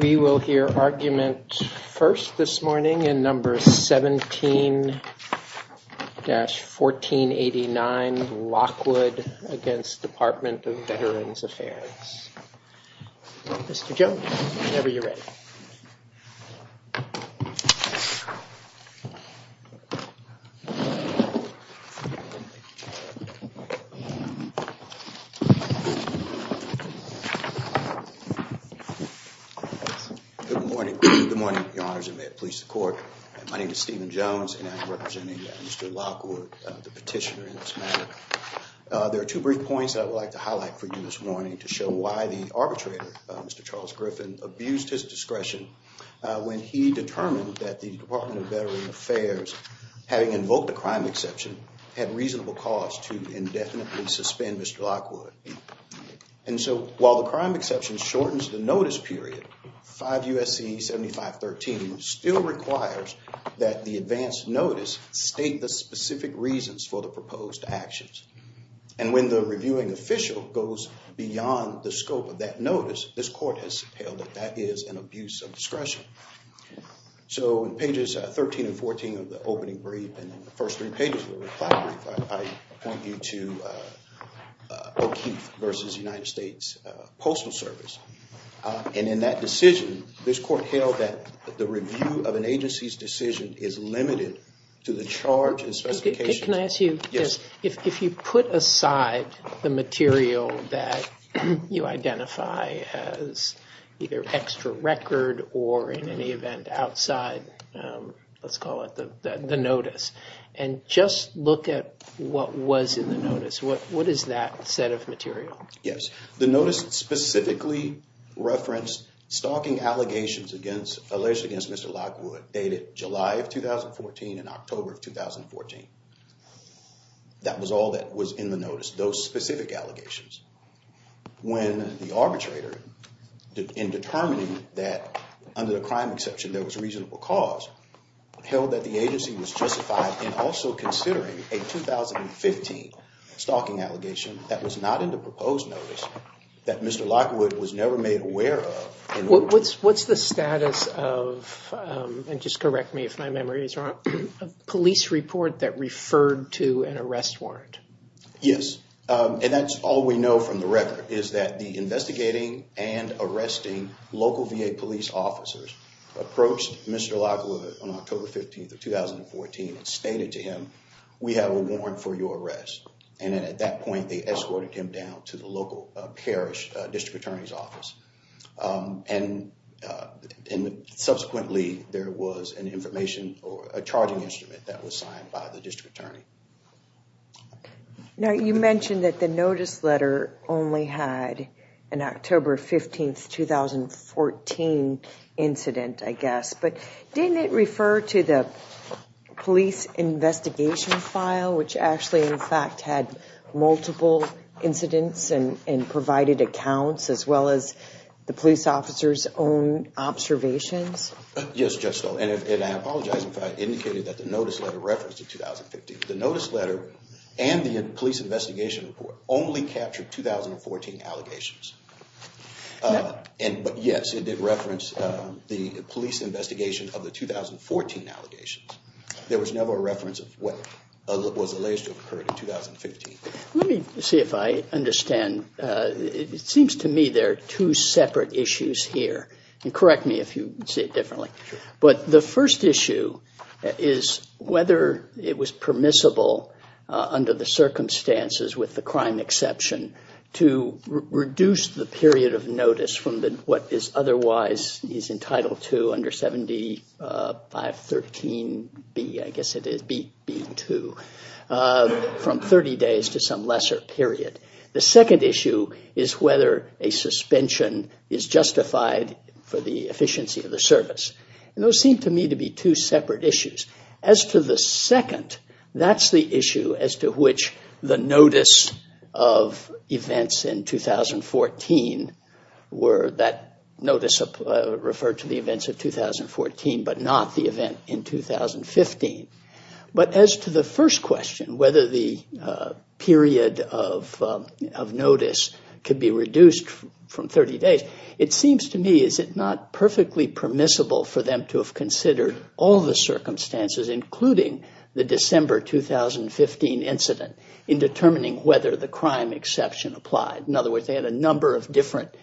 We will hear argument first this morning in number 17-1489 Lockwood v. Department of Veterans Affairs. Mr. Jones, whenever you're ready. Good morning. Good morning, Your Honors, and may it please the court. My name is Stephen Jones, and I'm representing Mr. Lockwood, the petitioner in this matter. There are two brief points that I would like to highlight for you this morning to show why the arbitrator, Mr. Charles Griffin, abused his discretion when he determined that the Department of Veterans Affairs, having invoked a crime exception, had reasonable cause to indefinitely suspend Mr. Lockwood. And so while the crime exception shortens the notice period, 5 U.S.C. 7513 still requires that the advance notice state the specific reasons for the proposed actions. And when the reviewing official goes beyond the scope of that notice, this court has said that that is an abuse of discretion. So in pages 13 and 14 of the opening brief and the first three pages of the reply brief, I point you to O'Keeffe v. United States Postal Service. And in that decision, this court held that the review of an agency's decision is limited to the charge and specifications. Can I ask you, if you put aside the material that you identify as either extra record or in any event outside, let's call it the notice, and just look at what was in the notice, what is that set of material? Yes. The notice specifically referenced stalking allegations against Mr. Lockwood dated July of 2014 and October of 2014. That was all that was in the notice, those specific allegations. When the arbitrator, in determining that under the crime exception there was reasonable cause, held that the agency was justified in also considering a 2015 stalking allegation that was not in the proposed notice that Mr. Lockwood was never made aware of. What's the status of, and just correct me if my memory is wrong, a police report that referred to an arrest warrant? Yes. And that's all we know from the record is that the investigating and arresting local VA police officers approached Mr. Lockwood on October 15th of 2014 and stated to him, we have a warrant for your arrest. And at that point, they escorted him down to the local parish district attorney's office. And subsequently, there was an information or a charging instrument that was signed by the district attorney. Now, you mentioned that the notice letter only had an October 15th, 2014 incident, I guess, but didn't it refer to the police investigation file, which actually in fact had multiple incidents and provided accounts as well as the police officers' own observations? Yes, Judge Stoll, and I apologize if I indicated that the notice letter referenced the 2015. The notice letter and the police investigation report only captured 2014 allegations. But yes, it did reference the police investigation of the 2014 allegations. There was never a reference of what was alleged to have occurred in 2015. Let me see if I understand. It seems to me there are two separate issues here. And correct me if you see it differently. But the first issue is whether it was permissible under the circumstances with the crime exception to reduce the period of notice from what is otherwise is entitled to under 7513B, I guess it is, B2, from 30 days to some lesser period. The second issue is whether a suspension is justified for the efficiency of the service. And those seem to me to be two separate issues. As to the second, that's the issue as to which the notice of events in 2014 were that notice referred to the events of 2014, but not the event in 2015. But as to the first question, whether the period of notice could be reduced from 30 days, it seems to me is it not perfectly permissible for them to have considered all the circumstances, including the December 2015 incident, in determining whether the crime exception applied. In other words, they had a number of different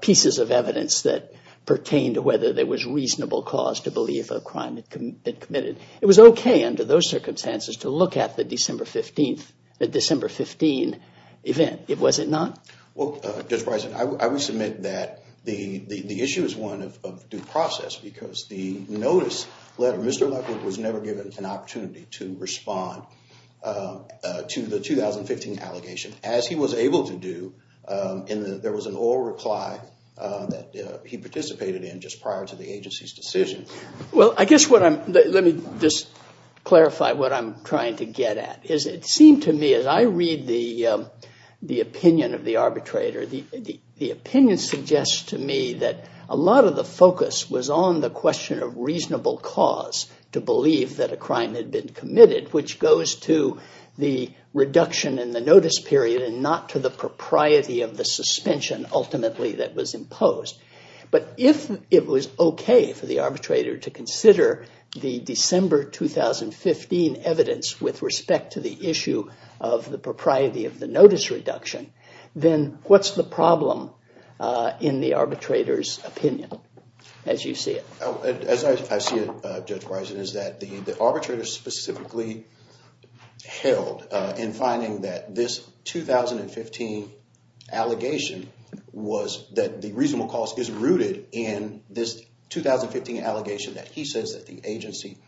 pieces of evidence that pertained to whether there was reasonable cause to believe a crime had been committed. It was okay under those circumstances to look at the December 15 event. Was it not? Well, Judge Bryson, I would submit that the issue is one of due process, because the notice letter, Mr. Luckett was never given an opportunity to respond to the 2015 allegation. As he was able to do, there was an oral reply that he participated in just prior to the agency's decision. Well, I guess what I'm – let me just clarify what I'm trying to get at. It seemed to me, as I read the opinion of the arbitrator, the opinion suggests to me that a lot of the focus was on the question of reasonable cause to believe that a crime had been committed, which goes to the reduction in the notice period and not to the propriety of the suspension ultimately that was imposed. But if it was okay for the arbitrator to consider the December 2015 evidence with respect to the issue of the propriety of the notice reduction, then what's the problem in the arbitrator's opinion, as you see it? As I see it, Judge Bryson, is that the arbitrator specifically held in finding that this 2015 allegation was – that the reasonable cause is rooted in this 2015 allegation that he says that the agency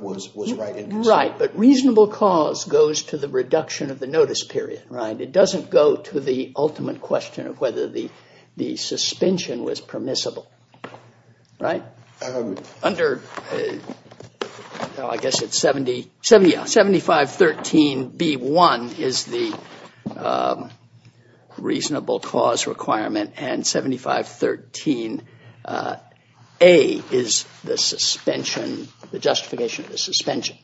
was right in this. But reasonable cause goes to the reduction of the notice period, right? It doesn't go to the ultimate question of whether the suspension was permissible, right? Under – I guess it's 7513b1 is the reasonable cause requirement and 7513a is the suspension – the justification of the suspension.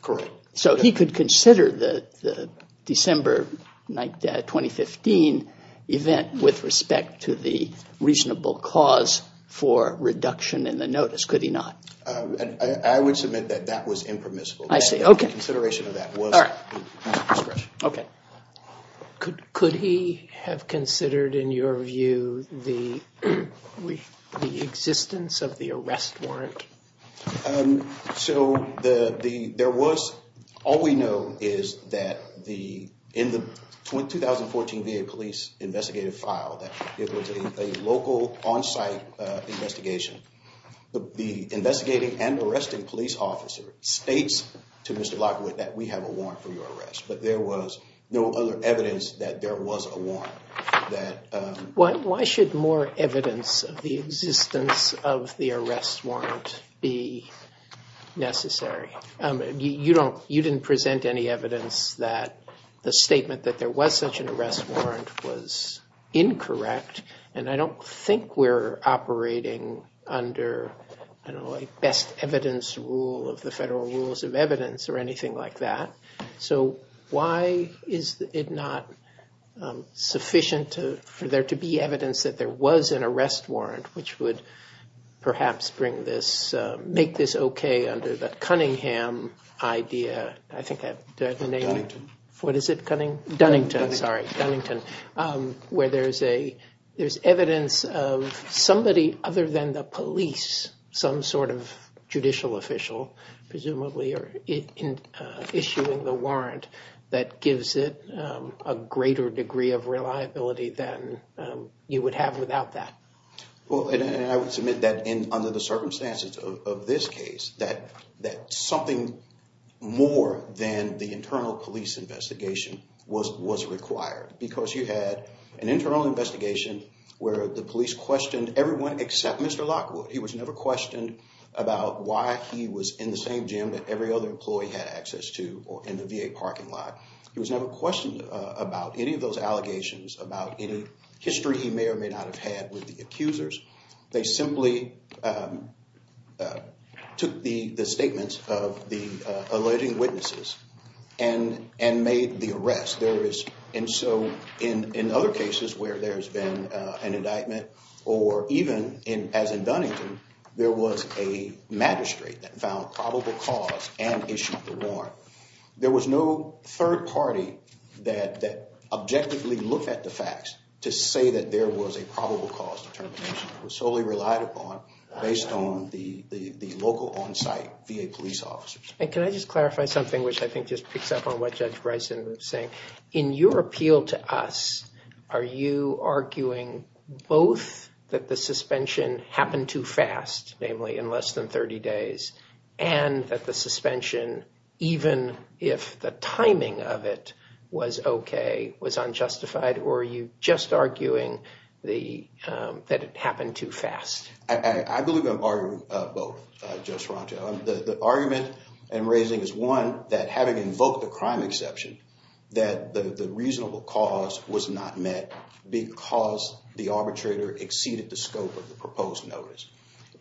Correct. So he could consider the December 2015 event with respect to the reasonable cause for reduction in the notice, could he not? I would submit that that was impermissible. I see. Okay. The consideration of that was – All right. Okay. Could he have considered, in your view, the existence of the arrest warrant? So the – there was – all we know is that the – in the 2014 VA police investigative file that there was a local on-site investigation, the investigating and arresting police officer states to Mr. Lockwood that we have a warrant for your arrest. But there was no other evidence that there was a warrant. Why should more evidence of the existence of the arrest warrant be necessary? You don't – you didn't present any evidence that the statement that there was such an arrest warrant was incorrect, and I don't think we're operating under, you know, a best evidence rule of the federal rules of evidence or anything like that. So why is it not sufficient for there to be evidence that there was an arrest warrant which would perhaps bring this – make this okay under the Cunningham idea? I think that – do I have the name? Dunnington. What is it, Cunning – Dunnington. Where there's a – there's evidence of somebody other than the police, some sort of judicial official presumably, issuing the warrant that gives it a greater degree of reliability than you would have without that. Well, and I would submit that under the circumstances of this case that something more than the internal police investigation was required because you had an internal investigation where the police questioned everyone except Mr. Lockwood. He was never questioned about why he was in the same gym that every other employee had access to or in the VA parking lot. He was never questioned about any of those allegations, about any history he may or may not have had with the accusers. They simply took the statements of the alleging witnesses and made the arrest. There is – and so in other cases where there's been an indictment or even as in Dunnington, there was a magistrate that found probable cause and issued the warrant. There was no third party that objectively looked at the facts to say that there was a probable cause determination. It was solely relied upon based on the local on-site VA police officers. And can I just clarify something, which I think just picks up on what Judge Bryson was saying? In your appeal to us, are you arguing both that the suspension happened too fast, namely in less than 30 days, and that the suspension, even if the timing of it was okay, was unjustified? Or are you just arguing that it happened too fast? I believe I'm arguing both, Judge Sorrento. The argument I'm raising is, one, that having invoked the crime exception, that the reasonable cause was not met because the arbitrator exceeded the scope of the proposed notice.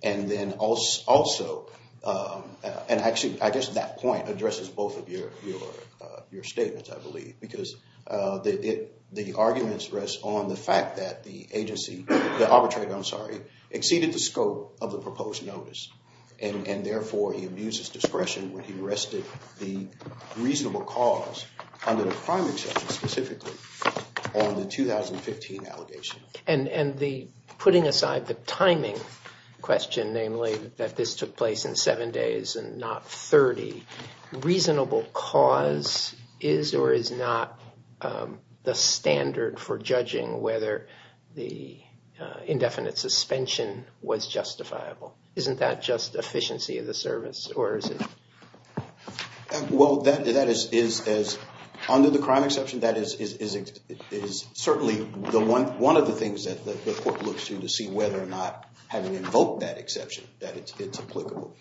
And then also – and actually, I guess that point addresses both of your statements, I believe. Because the arguments rest on the fact that the agency – the arbitrator, I'm sorry – exceeded the scope of the proposed notice. And therefore, he abused his discretion when he arrested the reasonable cause under the crime exception specifically on the 2015 allegation. And putting aside the timing question, namely that this took place in seven days and not 30, reasonable cause is or is not the standard for judging whether the indefinite suspension was justifiable. Isn't that just efficiency of the service? Well, that is – under the crime exception, that is certainly one of the things that the court looks to to see whether or not, having invoked that exception, that it's applicable.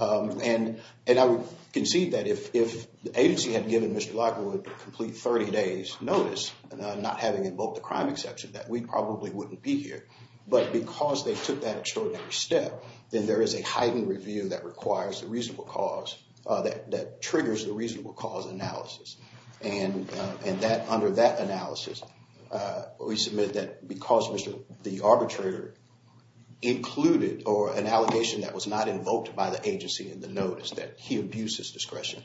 And I would concede that if the agency had given Mr. Lockwood a complete 30-days notice, not having invoked the crime exception, that we probably wouldn't be here. But because they took that extraordinary step, then there is a heightened review that requires the reasonable cause – that triggers the reasonable cause analysis. And that – under that analysis, we submit that because Mr. – the arbitrator included or – an allegation that was not invoked by the agency in the notice, that he abused his discretion.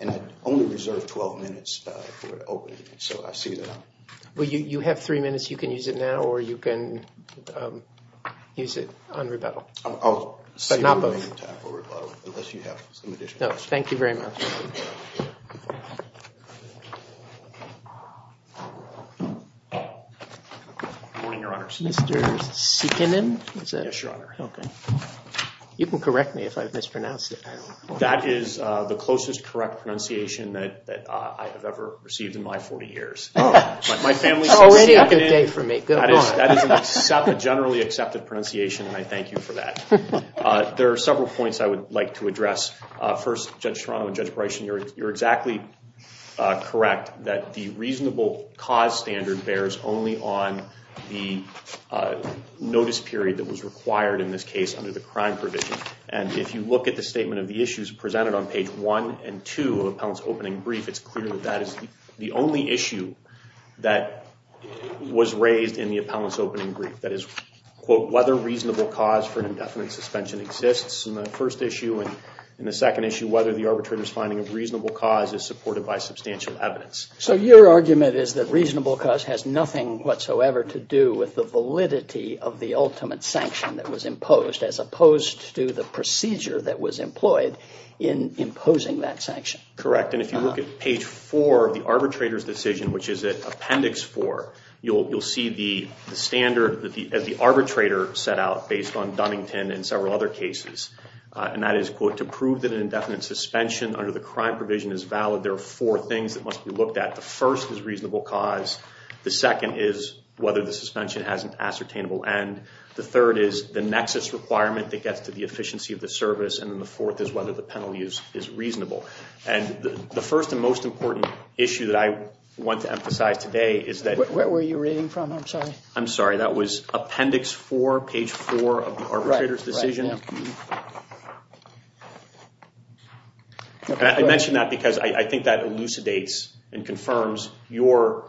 And I only reserve 12 minutes for opening, so I see that I'm – Well, you have three minutes. You can use it now or you can use it on rebuttal. I'll see if I have time for rebuttal, unless you have some additional questions. No, thank you very much. Good morning, Your Honor. Mr. Seekinen? Yes, Your Honor. Okay. You can correct me if I mispronounce it. That is the closest correct pronunciation that I have ever received in my 40 years. Already a good day for me. That is a generally accepted pronunciation, and I thank you for that. There are several points I would like to address. First, Judge Toronto and Judge Bryson, you're exactly correct that the reasonable cause standard bears only on the notice period that was required in this case under the crime provision. And if you look at the statement of the issues presented on page 1 and 2 of appellant's opening brief, it's clear that that is the only issue that was raised in the appellant's opening brief. That is, quote, whether reasonable cause for an indefinite suspension exists in the first issue. And in the second issue, whether the arbitrator's finding of reasonable cause is supported by substantial evidence. So your argument is that reasonable cause has nothing whatsoever to do with the validity of the ultimate sanction that was imposed, as opposed to the procedure that was employed in imposing that sanction. Correct, and if you look at page 4 of the arbitrator's decision, which is at appendix 4, you'll see the standard that the arbitrator set out based on Dunnington and several other cases. And that is, quote, to prove that an indefinite suspension under the crime provision is valid, there are four things that must be looked at. The first is reasonable cause. The second is whether the suspension has an ascertainable end. The third is the nexus requirement that gets to the efficiency of the service. And then the fourth is whether the penalty is reasonable. And the first and most important issue that I want to emphasize today is that- Where were you reading from? I'm sorry. I'm sorry, that was appendix 4, page 4 of the arbitrator's decision. Right, right, yeah. I mention that because I think that elucidates and confirms your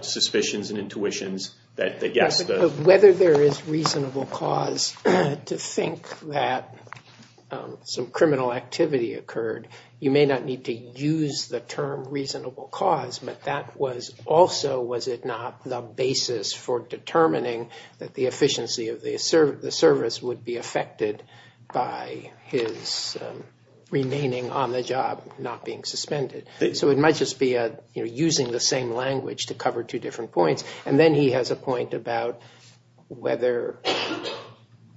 suspicions and intuitions that yes- Whether there is reasonable cause to think that some criminal activity occurred, you may not need to use the term reasonable cause, but that was also, was it not, the basis for determining that the efficiency of the service would be affected by his remaining on the job not being suspended. So it might just be using the same language to cover two different points. And then he has a point about whether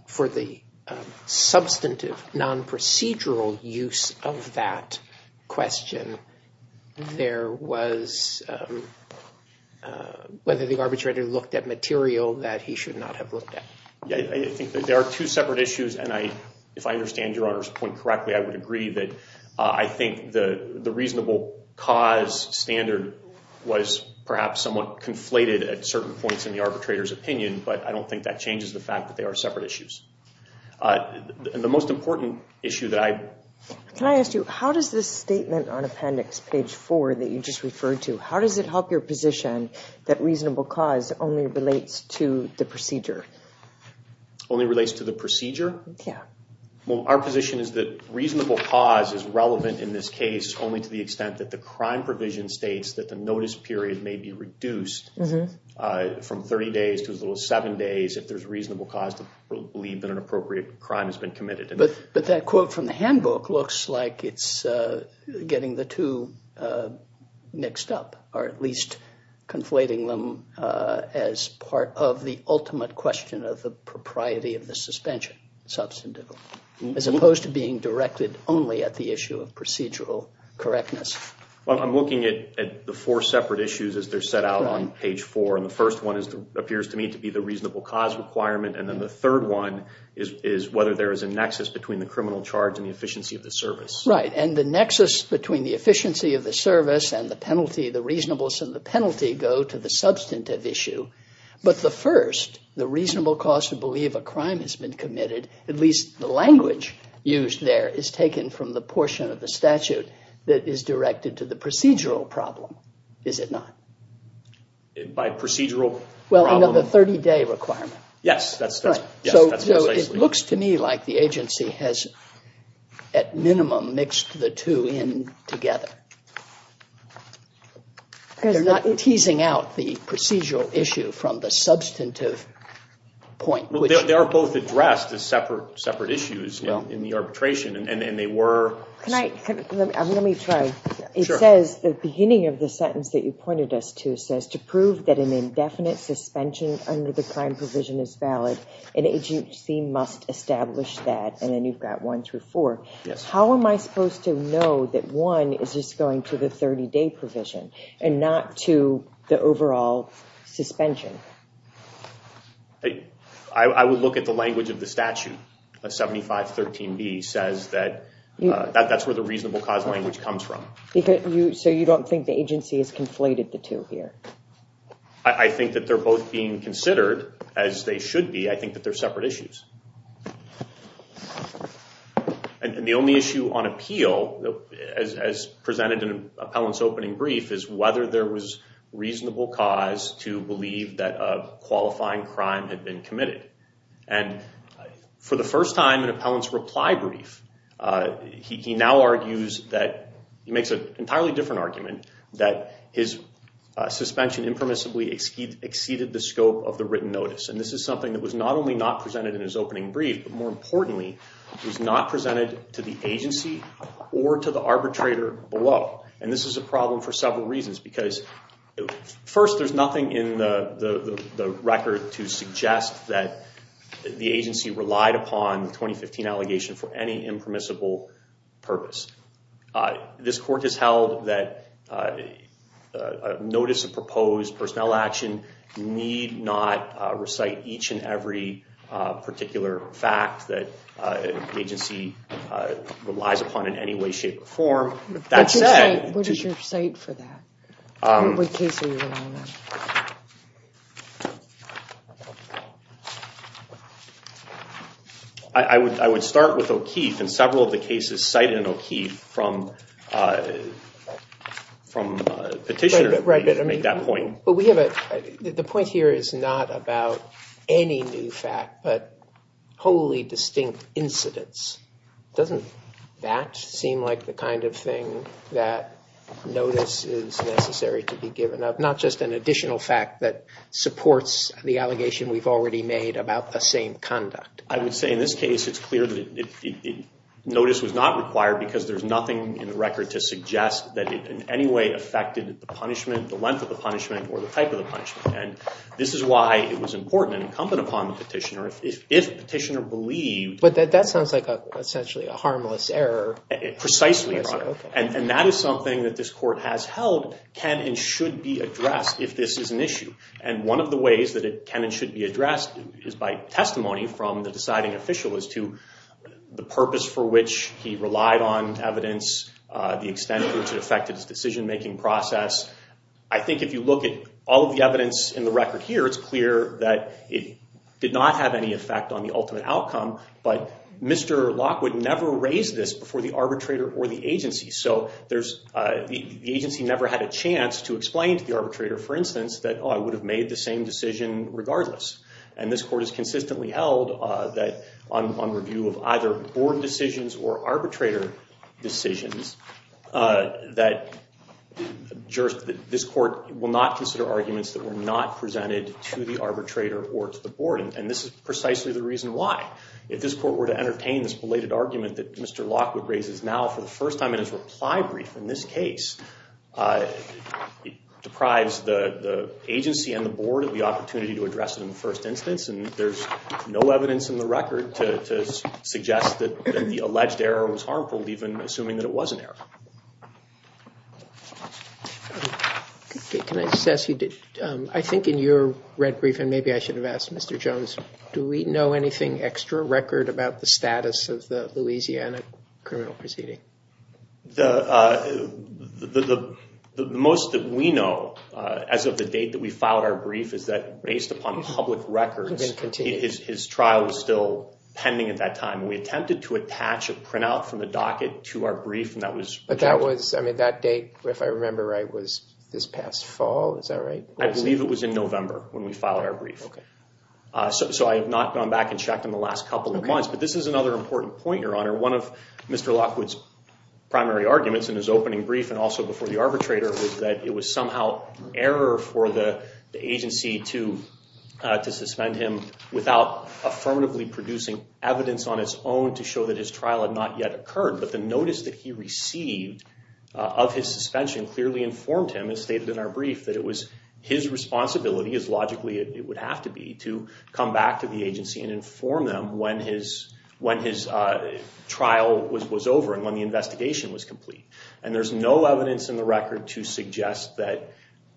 for the substantive, non-procedural use of that question, there was- whether the arbitrator looked at material that he should not have looked at. Yeah, I think there are two separate issues, and if I understand Your Honor's point correctly, I would agree that I think the reasonable cause standard was perhaps somewhat conflated at certain points in the arbitrator's opinion, but I don't think that changes the fact that they are separate issues. And the most important issue that I- Can I ask you, how does this statement on appendix page 4 that you just referred to, how does it help your position that reasonable cause only relates to the procedure? Only relates to the procedure? Yeah. Well, our position is that reasonable cause is relevant in this case only to the extent that the crime provision states that the notice period may be reduced from 30 days to as little as seven days if there's reasonable cause to believe that an appropriate crime has been committed. But that quote from the handbook looks like it's getting the two mixed up, or at least conflating them as part of the ultimate question of the propriety of the suspension substantively, as opposed to being directed only at the issue of procedural correctness. Well, I'm looking at the four separate issues as they're set out on page 4, and the first one appears to me to be the reasonable cause requirement, and then the third one is whether there is a nexus between the criminal charge and the efficiency of the service. Right, and the nexus between the efficiency of the service and the penalty, the reasonableness of the penalty, go to the substantive issue. But the first, the reasonable cause to believe a crime has been committed, at least the language used there is taken from the portion of the statute that is directed to the procedural problem, is it not? By procedural problem? Well, another 30-day requirement. Yes, that's precisely. So it looks to me like the agency has, at minimum, mixed the two in together. They're not teasing out the procedural issue from the substantive point. They are both addressed as separate issues in the arbitration, and they were. Can I, let me try. Sure. It says, the beginning of the sentence that you pointed us to says, to prove that an indefinite suspension under the crime provision is valid, an agency must establish that, and then you've got one through four. How am I supposed to know that one is just going to the 30-day provision and not to the overall suspension? I would look at the language of the statute. 7513B says that that's where the reasonable cause language comes from. So you don't think the agency has conflated the two here? I think that they're both being considered as they should be. I think that they're separate issues. And the only issue on appeal, as presented in Appellant's opening brief, is whether there was reasonable cause to believe that a qualifying crime had been committed. And for the first time in Appellant's reply brief, he now argues that, he makes an entirely different argument, that his suspension impermissibly exceeded the scope of the written notice. And this is something that was not only not presented in his opening brief, but more importantly, was not presented to the agency or to the arbitrator below. And this is a problem for several reasons, because first, there's nothing in the record to suggest that the agency relied upon the 2015 allegation for any impermissible purpose. This court has held that a notice of proposed personnel action need not recite each and every particular fact that an agency relies upon in any way, shape, or form. What is your cite for that? I would start with O'Keefe, and several of the cases cited in O'Keefe from Petitioner make that point. The point here is not about any new fact, but wholly distinct incidents. Doesn't that seem like the kind of thing that notice is necessary to be given up? Not just an additional fact that supports the allegation we've already made about the same conduct. I would say in this case, it's clear that notice was not required, because there's nothing in the record to suggest that it in any way affected the punishment, the length of the punishment, or the type of the punishment. And this is why it was important and incumbent upon the Petitioner, if Petitioner believed But that sounds like essentially a harmless error. Precisely, and that is something that this court has held can and should be addressed if this is an issue. And one of the ways that it can and should be addressed is by testimony from the deciding official as to the purpose for which he relied on evidence, the extent to which it affected his decision-making process. I think if you look at all of the evidence in the record here, it's clear that it did not have any effect on the ultimate outcome, but Mr. Lockwood never raised this before the arbitrator or the agency. So the agency never had a chance to explain to the arbitrator, for instance, that I would have made the same decision regardless. And this court has consistently held that on review of either board decisions or arbitrator decisions, that this court will not consider arguments that were not presented to the arbitrator or to the board. And this is precisely the reason why. If this court were to entertain this belated argument that Mr. Lockwood raises now for the first time in his reply brief in this case, it deprives the agency and the board of the opportunity to address it in the first instance. And there's no evidence in the record to suggest that the alleged error was harmful, even assuming that it was an error. Can I just ask you, I think in your red brief, and maybe I should have asked Mr. Jones, do we know anything extra record about the status of the Louisiana criminal proceeding? The most that we know as of the date that we filed our brief is that based upon public records, his trial was still pending at that time. We attempted to attach a printout from the docket to our brief, and that was rejected. But that date, if I remember right, was this past fall. Is that right? I believe it was in November when we filed our brief. So I have not gone back and checked in the last couple of months. But this is another important point, Your Honor. One of Mr. Lockwood's primary arguments in his opening brief and also before the arbitrator was that it was somehow error for the agency to suspend him without affirmatively producing evidence on its own to show that his trial had not yet occurred. But the notice that he received of his suspension clearly informed him, as stated in our brief, that it was his responsibility, as logically it would have to be, to come back to the agency and inform them when his trial was over and when the investigation was complete. And there's no evidence in the record to suggest that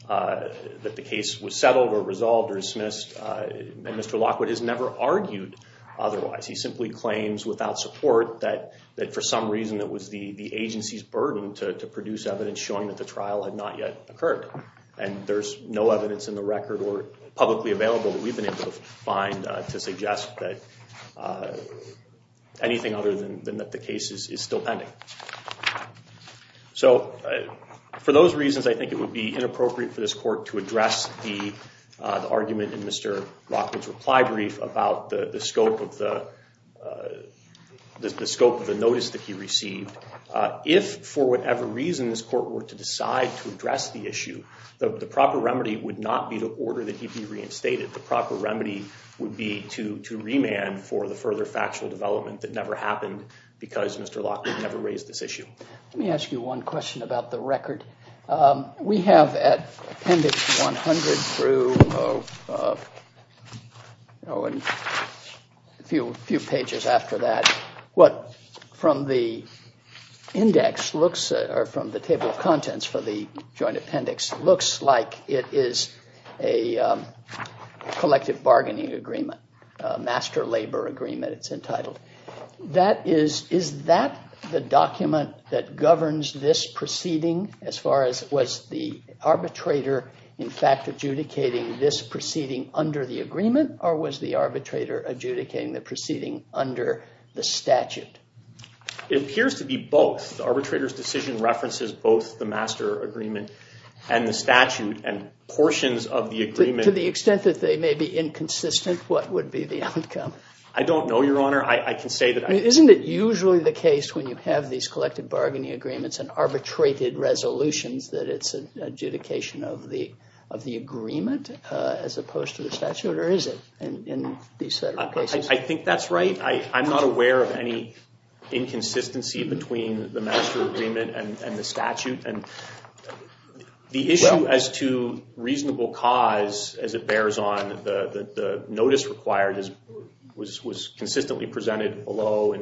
the case was settled or resolved or dismissed. And Mr. Lockwood has never argued otherwise. He simply claims without support that for some reason it was the agency's burden to produce evidence showing that the trial had not yet occurred. And there's no evidence in the record or publicly available that we've been able to find to suggest that anything other than that the case is still pending. So for those reasons, I think it would be inappropriate for this court to address the argument in Mr. Lockwood's reply brief about the scope of the notice that he received. If, for whatever reason, this court were to decide to address the issue, the proper remedy would not be to order that he be reinstated. The proper remedy would be to remand for the further factual development that never happened because Mr. Lockwood never raised this issue. Let me ask you one question about the record. We have at Appendix 100 through a few pages after that, what from the table of contents for the joint appendix looks like it is a collective bargaining agreement, a master labor agreement it's entitled. Is that the document that governs this proceeding as far as was the arbitrator in fact adjudicating this proceeding under the agreement or was the arbitrator adjudicating the proceeding under the statute? It appears to be both. The arbitrator's decision references both the master agreement and the statute and portions of the agreement. To the extent that they may be inconsistent, what would be the outcome? I don't know, Your Honor. Isn't it usually the case when you have these collective bargaining agreements and arbitrated resolutions that it's an adjudication of the agreement as opposed to the statute or is it in these set of cases? I think that's right. I'm not aware of any inconsistency between the master agreement and the statute. The issue as to reasonable cause as it bears on, the notice required was consistently presented below.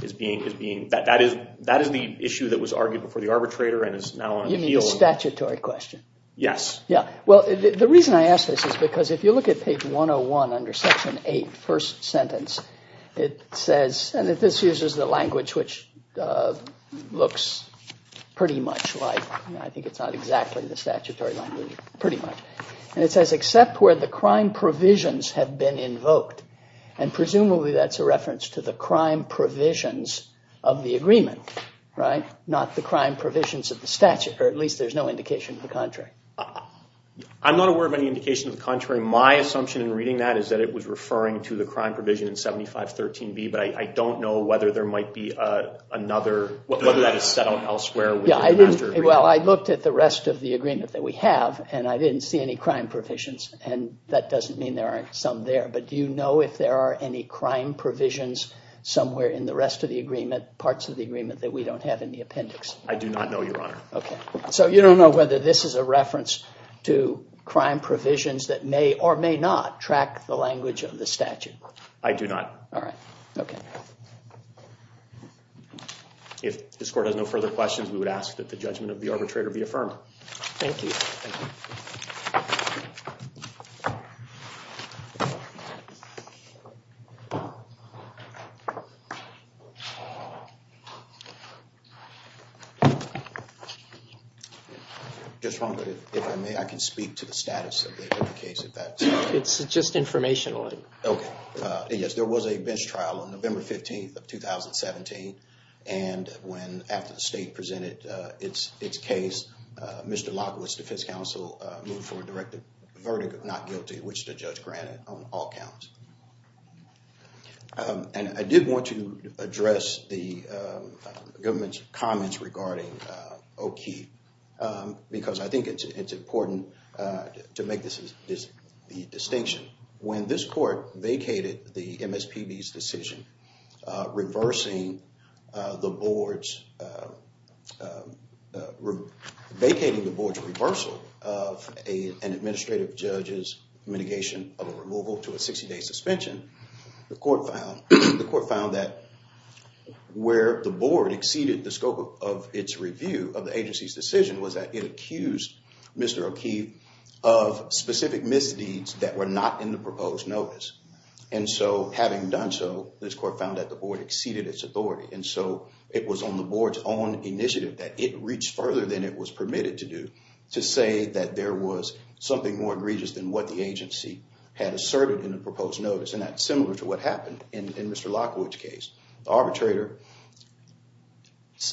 That is the issue that was argued before the arbitrator and is now on appeal. You mean the statutory question? Yes. Well, the reason I ask this is because if you look at page 101 under section 8, first sentence, it says, and this uses the language which looks pretty much like, I think it's not exactly the statutory language, pretty much, and it says except where the crime provisions have been invoked and presumably that's a reference to the crime provisions of the agreement, right? Not the crime provisions of the statute, or at least there's no indication of the contrary. I'm not aware of any indication of the contrary. My assumption in reading that is that it was referring to the crime provision in 7513B, but I don't know whether there might be another, whether that is set out elsewhere within the master agreement. Well, I looked at the rest of the agreement that we have and I didn't see any crime provisions and that doesn't mean there aren't some there, but do you know if there are any crime provisions somewhere in the rest of the agreement, parts of the agreement, that we don't have in the appendix? I do not know, Your Honor. Okay. So you don't know whether this is a reference to crime provisions that may or may not track the language of the statute? I do not. All right. Okay. If this Court has no further questions, we would ask that the judgment of the arbitrator be affirmed. Thank you. Thank you. Just one minute, if I may, I can speak to the status of the case at that time. It's just informational. Okay. Yes, there was a bench trial on November 15th of 2017 and when, after the state presented its case, Mr. Lockwood's defense counsel moved for a direct verdict of not guilty, which the judge granted on all counts. And I did want to address the government's comments regarding O'Keefe because I think it's important to make the distinction. When this Court vacated the MSPB's decision reversing the Board's, vacating the Board's reversal of an administrative judge's mitigation of a removal to a 60-day suspension, the Court found that where the Board exceeded the scope of its review of the agency's decision was that it accused Mr. O'Keefe of specific misdeeds that were not in the proposed notice. And so having done so, this Court found that the Board exceeded its authority. And so it was on the Board's own initiative that it reached further than it was permitted to do to say that there was something more egregious than what the agency had asserted in the proposed notice. And that's similar to what happened in Mr. Lockwood's case. The arbitrator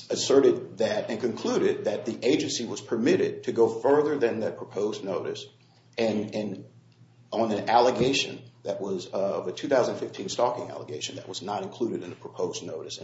asserted that and concluded that the agency was permitted to go further than the proposed notice on an allegation that was of a 2015 stalking allegation that was not included in the proposed notice.